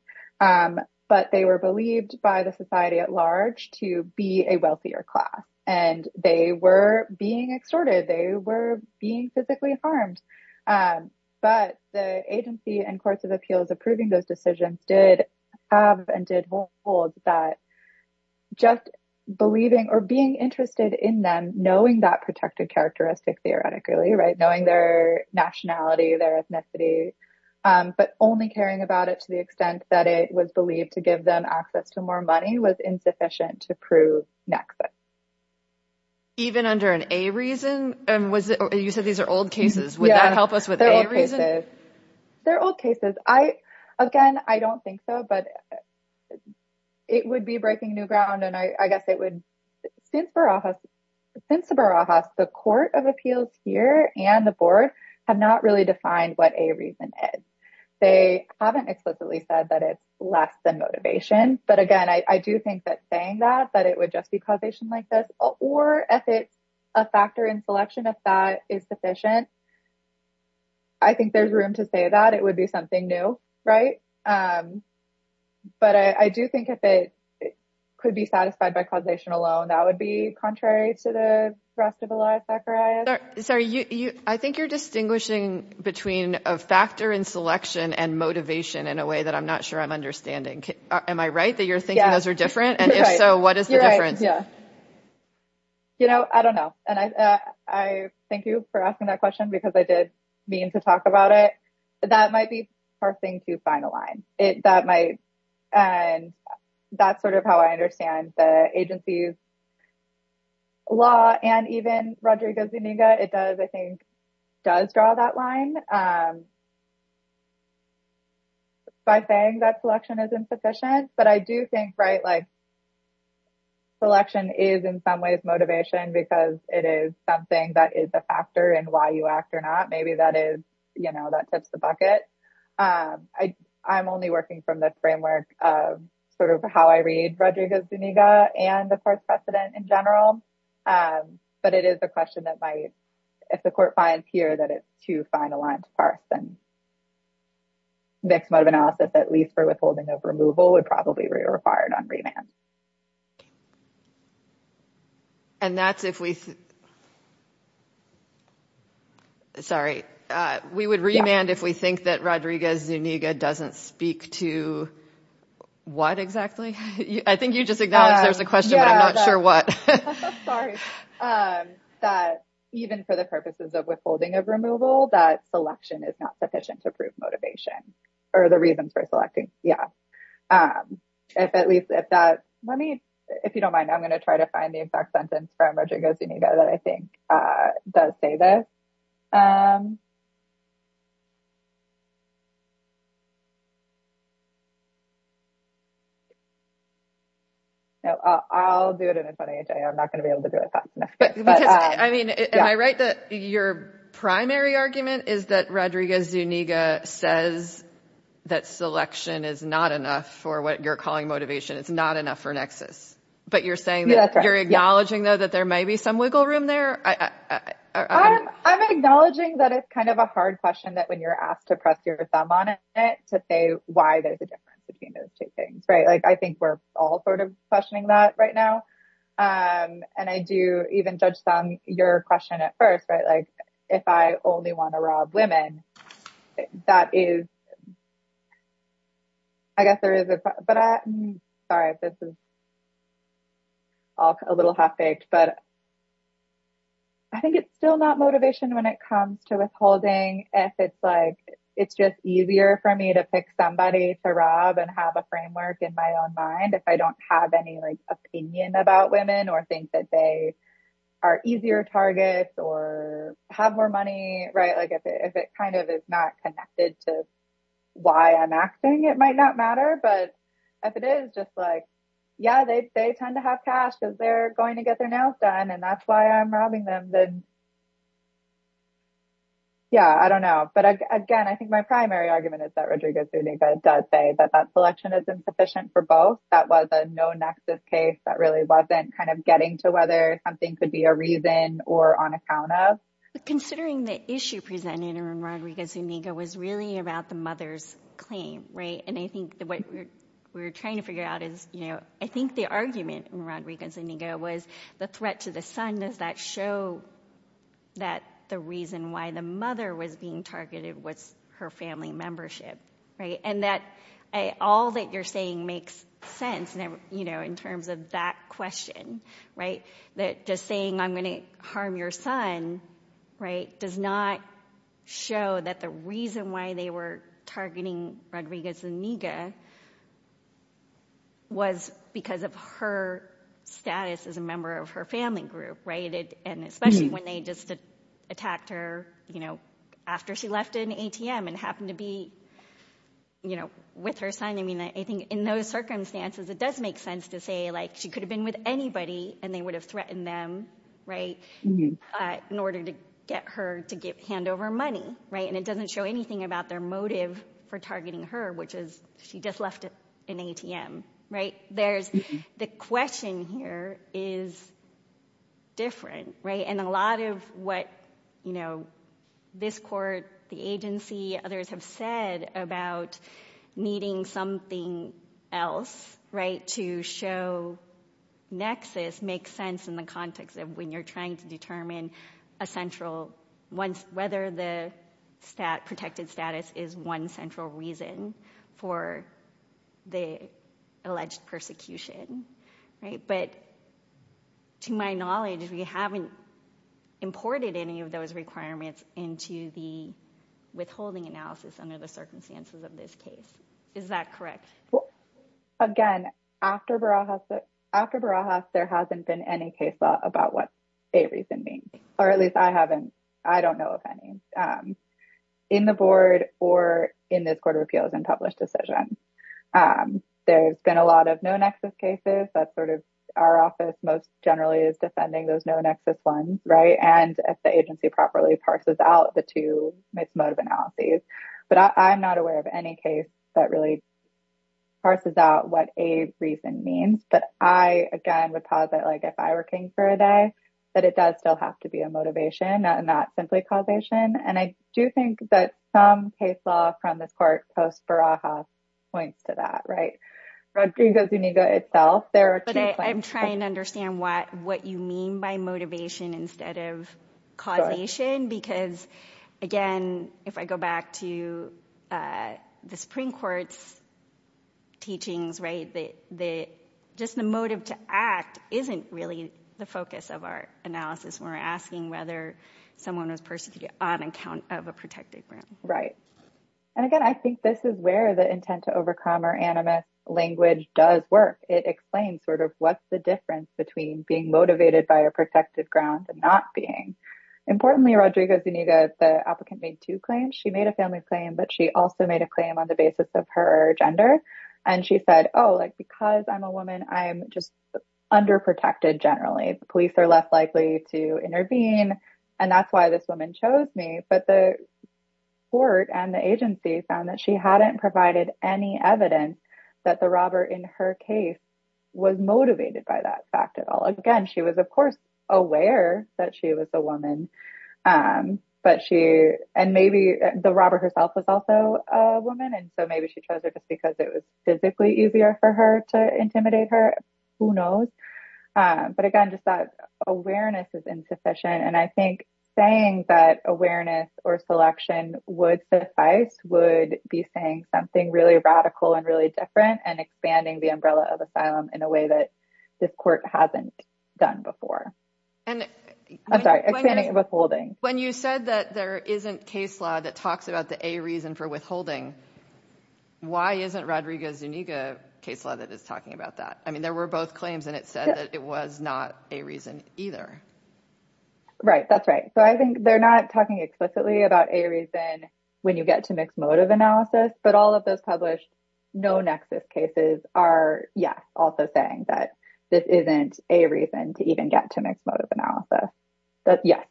But they were believed by the society at large to be a wealthier class and they were being extorted. They were being physically harmed. But the agency and courts of appeals approving those decisions did have and did hold that just believing or being interested in them, knowing that protected characteristic theoretically, right, knowing their nationality, their ethnicity, but only caring about it to the extent that it was believed to give them access to more money was insufficient to prove nexus. Even under an A reason, you said these are old cases. Would that help us with A reason? They're old cases. I, again, I don't think so, but it would be breaking new ground. And I guess it would. Since the Barajas, the court of appeals here and the board have not really defined what A reason is. They haven't explicitly said that it's less than motivation. But again, I do think that saying that, that it would just be causation like this, or if it's a factor in selection, if that is sufficient. I think there's room to say that it would be something new. Right. But I do think if it could be satisfied by causation alone, that would be contrary to the rest of the life. Sorry, I think you're distinguishing between a factor in selection and motivation in a way that I'm not sure I'm understanding. Am I right that you're thinking those are different? And if so, what is the difference? You know, I don't know. And I thank you for asking that question, because I did mean to talk about it. That might be parsing to find a line that might. And that's sort of how I understand the agency's law. And even Rodrigo Zuniga, it does, I think, does draw that line. By saying that selection is insufficient, but I do think, right, like, selection is in some ways motivation, because it is something that is a factor in why you act or not. Maybe that is, you know, that tips the bucket. I'm only working from the framework of sort of how I read Rodrigo Zuniga and the course precedent in general. But it is a question that might, if the court finds here that it's too fine a line to parse, then mixed motive analysis, at least for withholding of removal, would probably be required on remand. And that's if we. Sorry, we would remand if we think that Rodrigo Zuniga doesn't speak to what exactly? I think you just acknowledged there's a question, but I'm not sure what. Sorry, that even for the purposes of withholding of removal, that selection is not sufficient to prove motivation or the reasons for selecting. Yeah. If at least if that, let me, if you don't mind, I'm going to try to find the exact sentence from Rodrigo Zuniga that I think does say this. No, I'll do it in a funny way. I'm not going to be able to do it. But I mean, am I right that your primary argument is that Rodrigo Zuniga says that selection is not enough for what you're calling motivation? It's not enough for nexus. But you're saying that you're acknowledging, though, that there may be some wiggle room there. I'm acknowledging that it's kind of a hard question that when you're asked to press your thumb on it to say why there's a difference between those two things. Right. Like, I think we're all sort of questioning that right now. And I do even judge some your question at first. Right. Like, if I only want to rob women, that is. I guess there is. But I'm sorry, this is. A little half-baked, but. I think it's still not motivation when it comes to withholding, if it's like it's just easier for me to pick somebody to rob and have a framework in my own mind, if I don't have any opinion about women or think that they are easier targets or have more money. Right. Because they're going to get their nails done and that's why I'm robbing them. Yeah, I don't know. But again, I think my primary argument is that Rodrigo Zuniga does say that that selection is insufficient for both. That was a no nexus case that really wasn't kind of getting to whether something could be a reason or on account of. Considering the issue presented in Rodrigo Zuniga was really about the mother's claim. Right. And I think what we're trying to figure out is, you know, I think the argument in Rodrigo Zuniga was the threat to the son. And does that show that the reason why the mother was being targeted was her family membership? Right. And that all that you're saying makes sense, you know, in terms of that question. Right. That just saying I'm going to harm your son, right, does not show that the reason why they were targeting Rodrigo Zuniga was because of her status as a member of her family group. Right. And especially when they just attacked her, you know, after she left an ATM and happened to be, you know, with her son. I mean, I think in those circumstances, it does make sense to say, like, she could have been with anybody and they would have threatened them. Right. In order to get her to hand over money. Right. And it doesn't show anything about their motive for targeting her, which is she just left an ATM. Right. There's the question here is different. Right. And a lot of what, you know, this court, the agency, others have said about needing something else. Right. To show nexus makes sense in the context of when you're trying to determine a central one. Whether the protected status is one central reason for the alleged persecution. Right. But to my knowledge, we haven't imported any of those requirements into the withholding analysis under the circumstances of this case. Is that correct? Again, after Barajas, there hasn't been any case law about what a reason means, or at least I haven't. I don't know of any in the board or in this court of appeals and published decision. There's been a lot of no nexus cases that sort of our office most generally is defending those no nexus ones. Right. And if the agency properly parses out the two motive analyses. But I'm not aware of any case that really parses out what a reason means. But I, again, would posit like if I were king for a day, that it does still have to be a motivation and not simply causation. And I do think that some case law from this part post Barajas points to that. Right. But I'm trying to understand what what you mean by motivation instead of causation. Because, again, if I go back to the Supreme Court's teachings, right, they just the motive to act isn't really the focus of our analysis. We're asking whether someone was persecuted on account of a protected. Right. And again, I think this is where the intent to overcome our animus language does work. It explains sort of what's the difference between being motivated by a protected ground and not being. Importantly, Rodrigo Zuniga, the applicant made two claims. She made a family claim, but she also made a claim on the basis of her gender. And she said, oh, like, because I'm a woman, I'm just under protected. Generally, police are less likely to intervene. And that's why this woman chose me. But the court and the agency found that she hadn't provided any evidence that the robber in her case was motivated by that fact at all. Again, she was, of course, aware that she was a woman. But she and maybe the robber herself was also a woman. And so maybe she chose it because it was physically easier for her to intimidate her. Who knows? But again, just that awareness is insufficient. And I think saying that awareness or selection would suffice would be saying something really radical and really different and expanding the umbrella of asylum in a way that this court hasn't done before. I'm sorry, expanding and withholding. When you said that there isn't case law that talks about the a reason for withholding. Why isn't Rodrigo Zuniga case law that is talking about that? I mean, there were both claims and it said that it was not a reason either. Right. That's right. So I think they're not talking explicitly about a reason when you get to mixed motive analysis. But all of those published no nexus cases are. Yes. Also saying that this isn't a reason to even get to mixed motive analysis. Yes.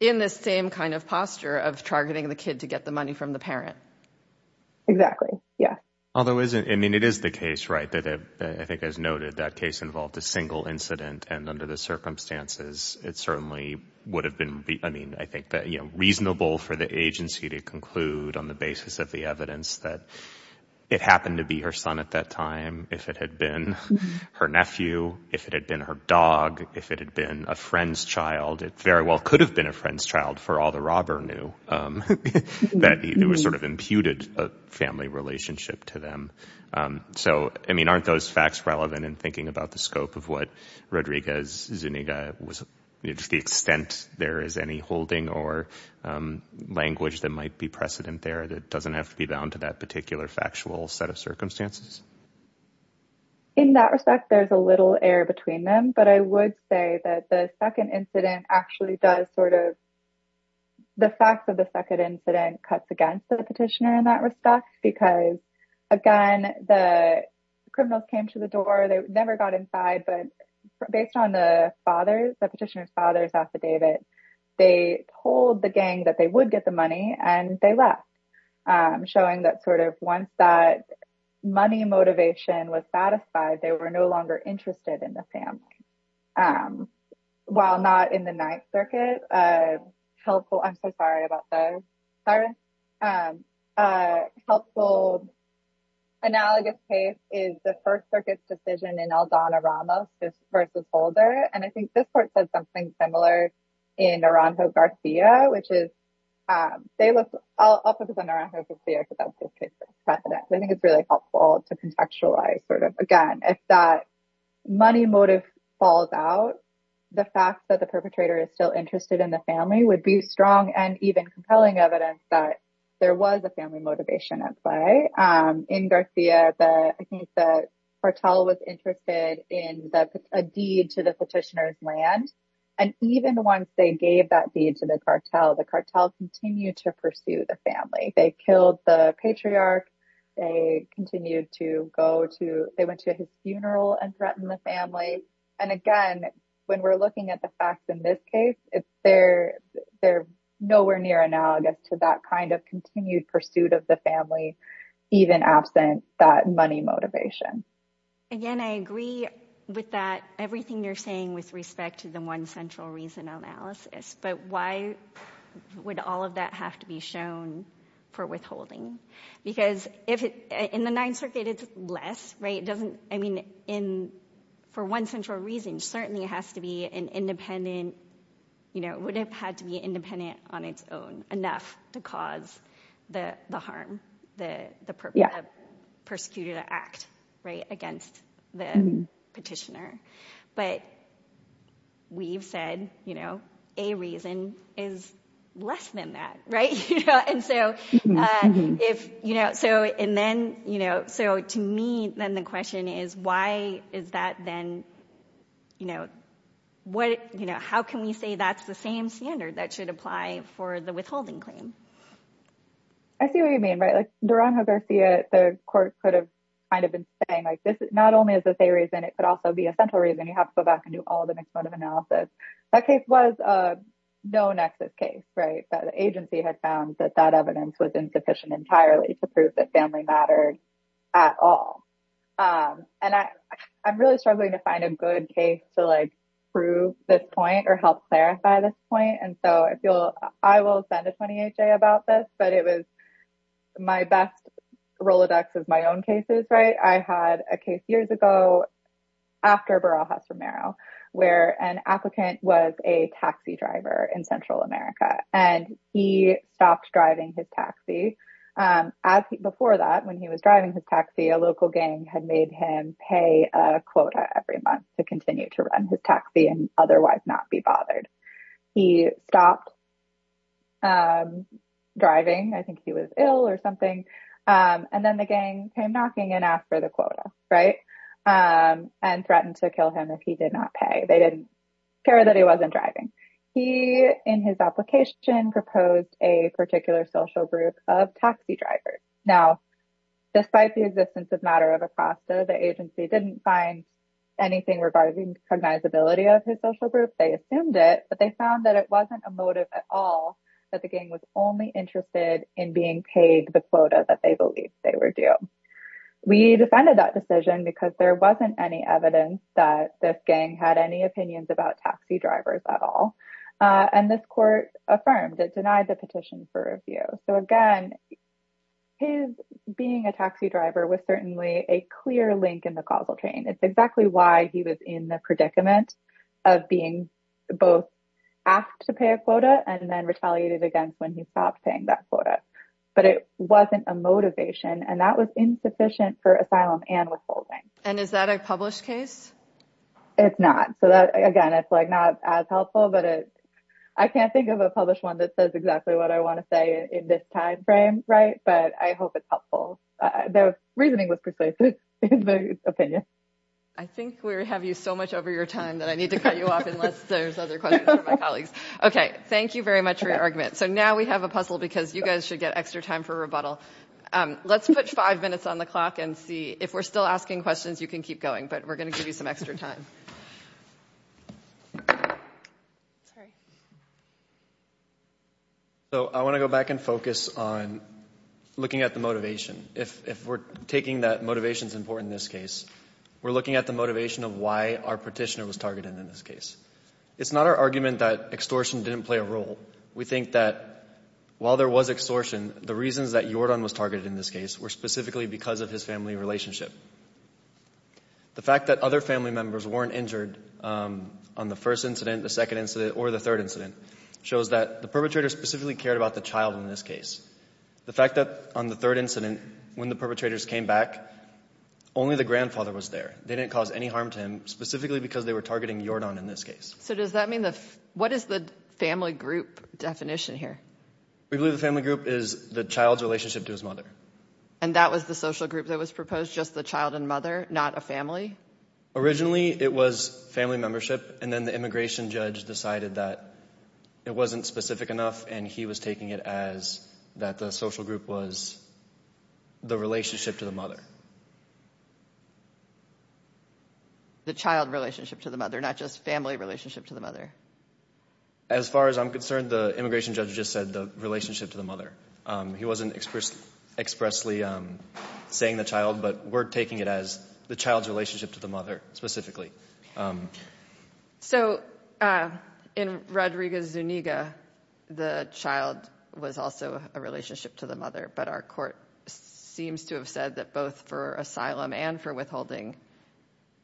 In this same kind of posture of targeting the kid to get the money from the parent. Exactly. Yeah. Although isn't I mean, it is the case. Right. That I think as noted, that case involved a single incident. And under the circumstances, it certainly would have been. I mean, I think that, you know, reasonable for the agency to conclude on the basis of the evidence that it happened to be her son at that time. If it had been her nephew, if it had been her dog, if it had been a friend's child, it very well could have been a friend's child for all the robber knew that it was sort of imputed a family relationship to them. So, I mean, aren't those facts relevant in thinking about the scope of what Rodriguez Zuniga was the extent there is any holding or language that might be precedent there that doesn't have to be bound to that particular factual set of circumstances. In that respect, there's a little air between them, but I would say that the second incident actually does sort of. The facts of the second incident cuts against the petitioner in that respect, because, again, the criminals came to the door. They never got inside. But based on the father, the petitioner's father's affidavit, they told the gang that they would get the money and they left. Showing that sort of once that money motivation was satisfied, they were no longer interested in the family. While not in the Ninth Circuit, helpful. I'm so sorry about that. Helpful analogous case is the First Circuit's decision in Aldana Ramos versus Holder. And I think this court said something similar in Naranjo Garcia, which is. I'll focus on Naranjo Garcia because that's precedent. I think it's really helpful to contextualize sort of, again, if that money motive falls out, the fact that the perpetrator is still interested in the family would be strong and even compelling evidence that there was a family motivation at play. In Garcia, the cartel was interested in a deed to the petitioner's land. And even once they gave that deed to the cartel, the cartel continued to pursue the family. They killed the patriarch. They continued to go to they went to his funeral and threatened the family. And again, when we're looking at the facts in this case, it's there. They're nowhere near analogous to that kind of continued pursuit of the family, even absent that money motivation. Again, I agree with that. Everything you're saying with respect to the one central reason analysis. But why would all of that have to be shown for withholding? Because in the Ninth Circuit, it's less. I mean, for one central reason, certainly it has to be an independent. It would have had to be independent on its own enough to cause the harm, the perpetrator persecuted an act against the petitioner. But we've said, you know, a reason is less than that. Right. And so if you know, so and then, you know, so to me, then the question is, why is that? Then, you know, what you know, how can we say that's the same standard that should apply for the withholding claim? I see what you mean, right? Like Durango Garcia, the court could have kind of been saying, like, this is not only is this a reason, it could also be a central reason you have to go back and do all the next mode of analysis. That case was a no nexus case, right? The agency had found that that evidence was insufficient entirely to prove that family matters at all. And I'm really struggling to find a good case to like prove this point or help clarify this point. And so I feel I will send a 28 day about this, but it was my best Rolodex of my own cases. Right. I had a case years ago, after Beralhaz Romero, where an applicant was a taxi driver in Central America, and he stopped driving his taxi. As before that, when he was driving his taxi, a local gang had made him pay a quota every month to continue to run his taxi and otherwise not be bothered. He stopped driving. I think he was ill or something. And then the gang came knocking and asked for the quota, right? And threatened to kill him if he did not pay. They didn't care that he wasn't driving. He, in his application, proposed a particular social group of taxi drivers. Now, despite the existence of matter of a pasta, the agency didn't find anything regarding cognizability of his social group, they assumed it, but they found that it wasn't a motive at all. That the gang was only interested in being paid the quota that they believed they were due. We defended that decision because there wasn't any evidence that this gang had any opinions about taxi drivers at all. And this court affirmed it denied the petition for review. So again, his being a taxi driver was certainly a clear link in the causal chain. It's exactly why he was in the predicament of being both asked to pay a quota and then retaliated against when he stopped paying that quota. But it wasn't a motivation and that was insufficient for asylum and withholding. And is that a published case? It's not. So that, again, it's like not as helpful, but I can't think of a published one that says exactly what I want to say in this time frame, right? But I hope it's helpful. The reasoning was precise in the opinion. I think we have you so much over your time that I need to cut you off unless there's other questions from my colleagues. Okay, thank you very much for your argument. So now we have a puzzle because you guys should get extra time for rebuttal. Let's put five minutes on the clock and see if we're still asking questions, you can keep going, but we're going to give you some extra time. So I want to go back and focus on looking at the motivation. If we're taking that motivation is important in this case, we're looking at the motivation of why our petitioner was targeted in this case. It's not our argument that extortion didn't play a role. We think that while there was extortion, the reasons that Jordan was targeted in this case were specifically because of his family relationship. The fact that other family members weren't injured on the first incident, the second incident, or the third incident shows that the perpetrator specifically cared about the child in this case. The fact that on the third incident, when the perpetrators came back, only the grandfather was there. They didn't cause any harm to him, specifically because they were targeting Jordan in this case. So does that mean, what is the family group definition here? We believe the family group is the child's relationship to his mother. And that was the social group that was proposed, just the child and mother, not a family? Originally, it was family membership, and then the immigration judge decided that it wasn't specific enough, and he was taking it as that the social group was the relationship to the mother. The child relationship to the mother, not just family relationship to the mother. As far as I'm concerned, the immigration judge just said the relationship to the mother. He wasn't expressly saying the child, but we're taking it as the child's relationship to the mother, specifically. So in Rodrigo Zuniga, the child was also a relationship to the mother, but our court seems to have said that both for asylum and for withholding,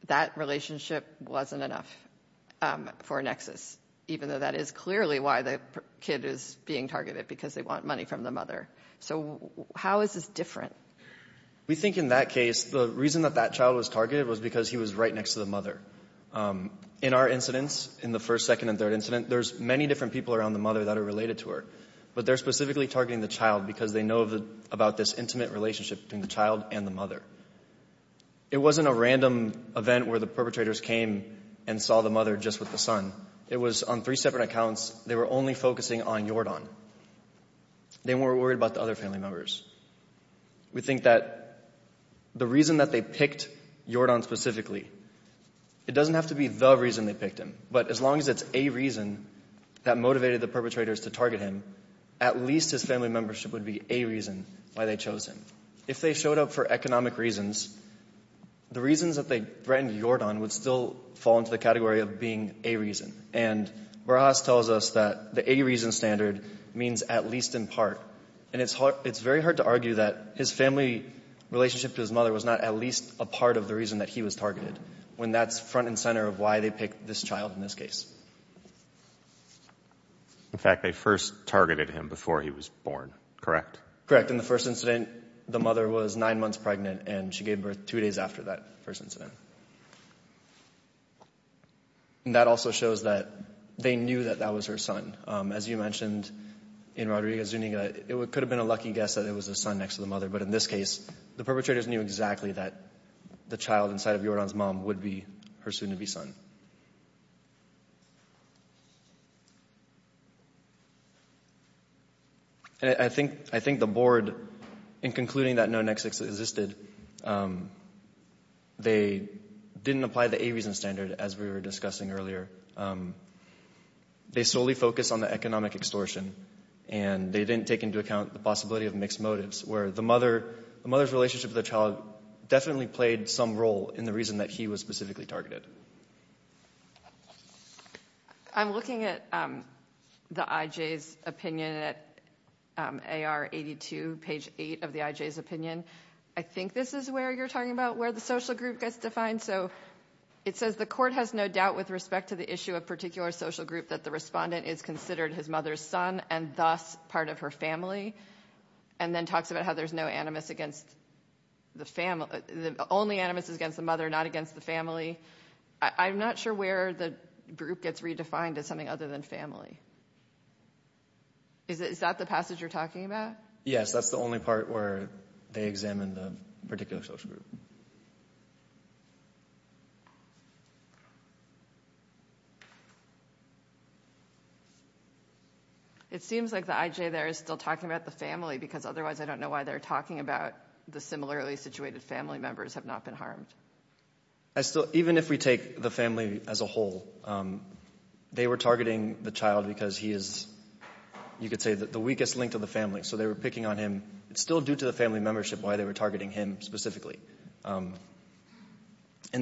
that relationship wasn't enough for Nexus, even though that is clearly why the kid is being targeted, because they want money from the mother. So how is this different? We think in that case, the reason that that child was targeted was because he was right next to the mother. In our incidents, in the first, second, and third incident, there's many different people around the mother that are related to her. But they're specifically targeting the child because they know about this intimate relationship between the child and the mother. It wasn't a random event where the perpetrators came and saw the mother just with the son. It was on three separate accounts. They were only focusing on Yordan. They weren't worried about the other family members. We think that the reason that they picked Yordan specifically, it doesn't have to be the reason they picked him. But as long as it's a reason that motivated the perpetrators to target him, at least his family membership would be a reason why they chose him. If they showed up for economic reasons, the reasons that they threatened Yordan would still fall into the category of being a reason. And Barajas tells us that the 80-reason standard means at least in part. And it's very hard to argue that his family relationship to his mother was not at least a part of the reason that he was targeted, when that's front and center of why they picked this child in this case. In fact, they first targeted him before he was born, correct? Correct. In the first incident, the mother was nine months pregnant, and she gave birth two days after that first incident. And that also shows that they knew that that was her son. As you mentioned in Rodriguez-Zuniga, it could have been a lucky guess that it was the son next to the mother. But in this case, the perpetrators knew exactly that the child inside of Yordan's mom would be her soon-to-be son. And I think the board, in concluding that no nexus existed, they didn't apply the 80-reason standard, as we were discussing earlier. They solely focused on the economic extortion, and they didn't take into account the possibility of mixed motives, where the mother's relationship with the child definitely played some role in the reason that he was specifically targeted. I'm looking at the IJ's opinion at AR 82, page 8 of the IJ's opinion. I think this is where you're talking about where the social group gets defined. So it says, the court has no doubt with respect to the issue of particular social group that the respondent is considered his mother's son, and thus part of her family, and then talks about how there's no animus against the family. The only animus is against the mother, not against the family. I'm not sure where the group gets redefined as something other than family. Is that the passage you're talking about? Yes, that's the only part where they examine the particular social group. It seems like the IJ there is still talking about the family, because otherwise I don't know why they're talking about the similarly situated family members have not been harmed. Even if we take the family as a whole, they were targeting the child because he is, you could say, the weakest link to the family. So they were picking on him. It's still due to the family membership why they were targeting him specifically. And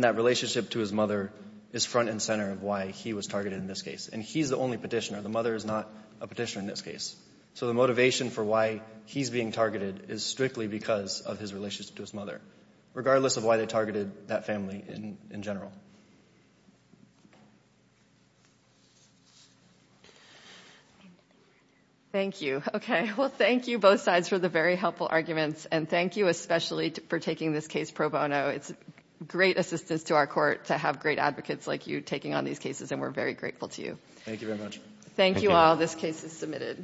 that relationship to his mother is front and center of why he was targeted in this case. And he's the only petitioner. The mother is not a petitioner in this case. So the motivation for why he's being targeted is strictly because of his relationship to his mother, regardless of why they targeted that family in general. Thank you. Okay, well, thank you both sides for the very helpful arguments. And thank you especially for taking this case pro bono. It's great assistance to our court to have great advocates like you taking on these cases, and we're very grateful to you. Thank you very much. Thank you all. This case is submitted.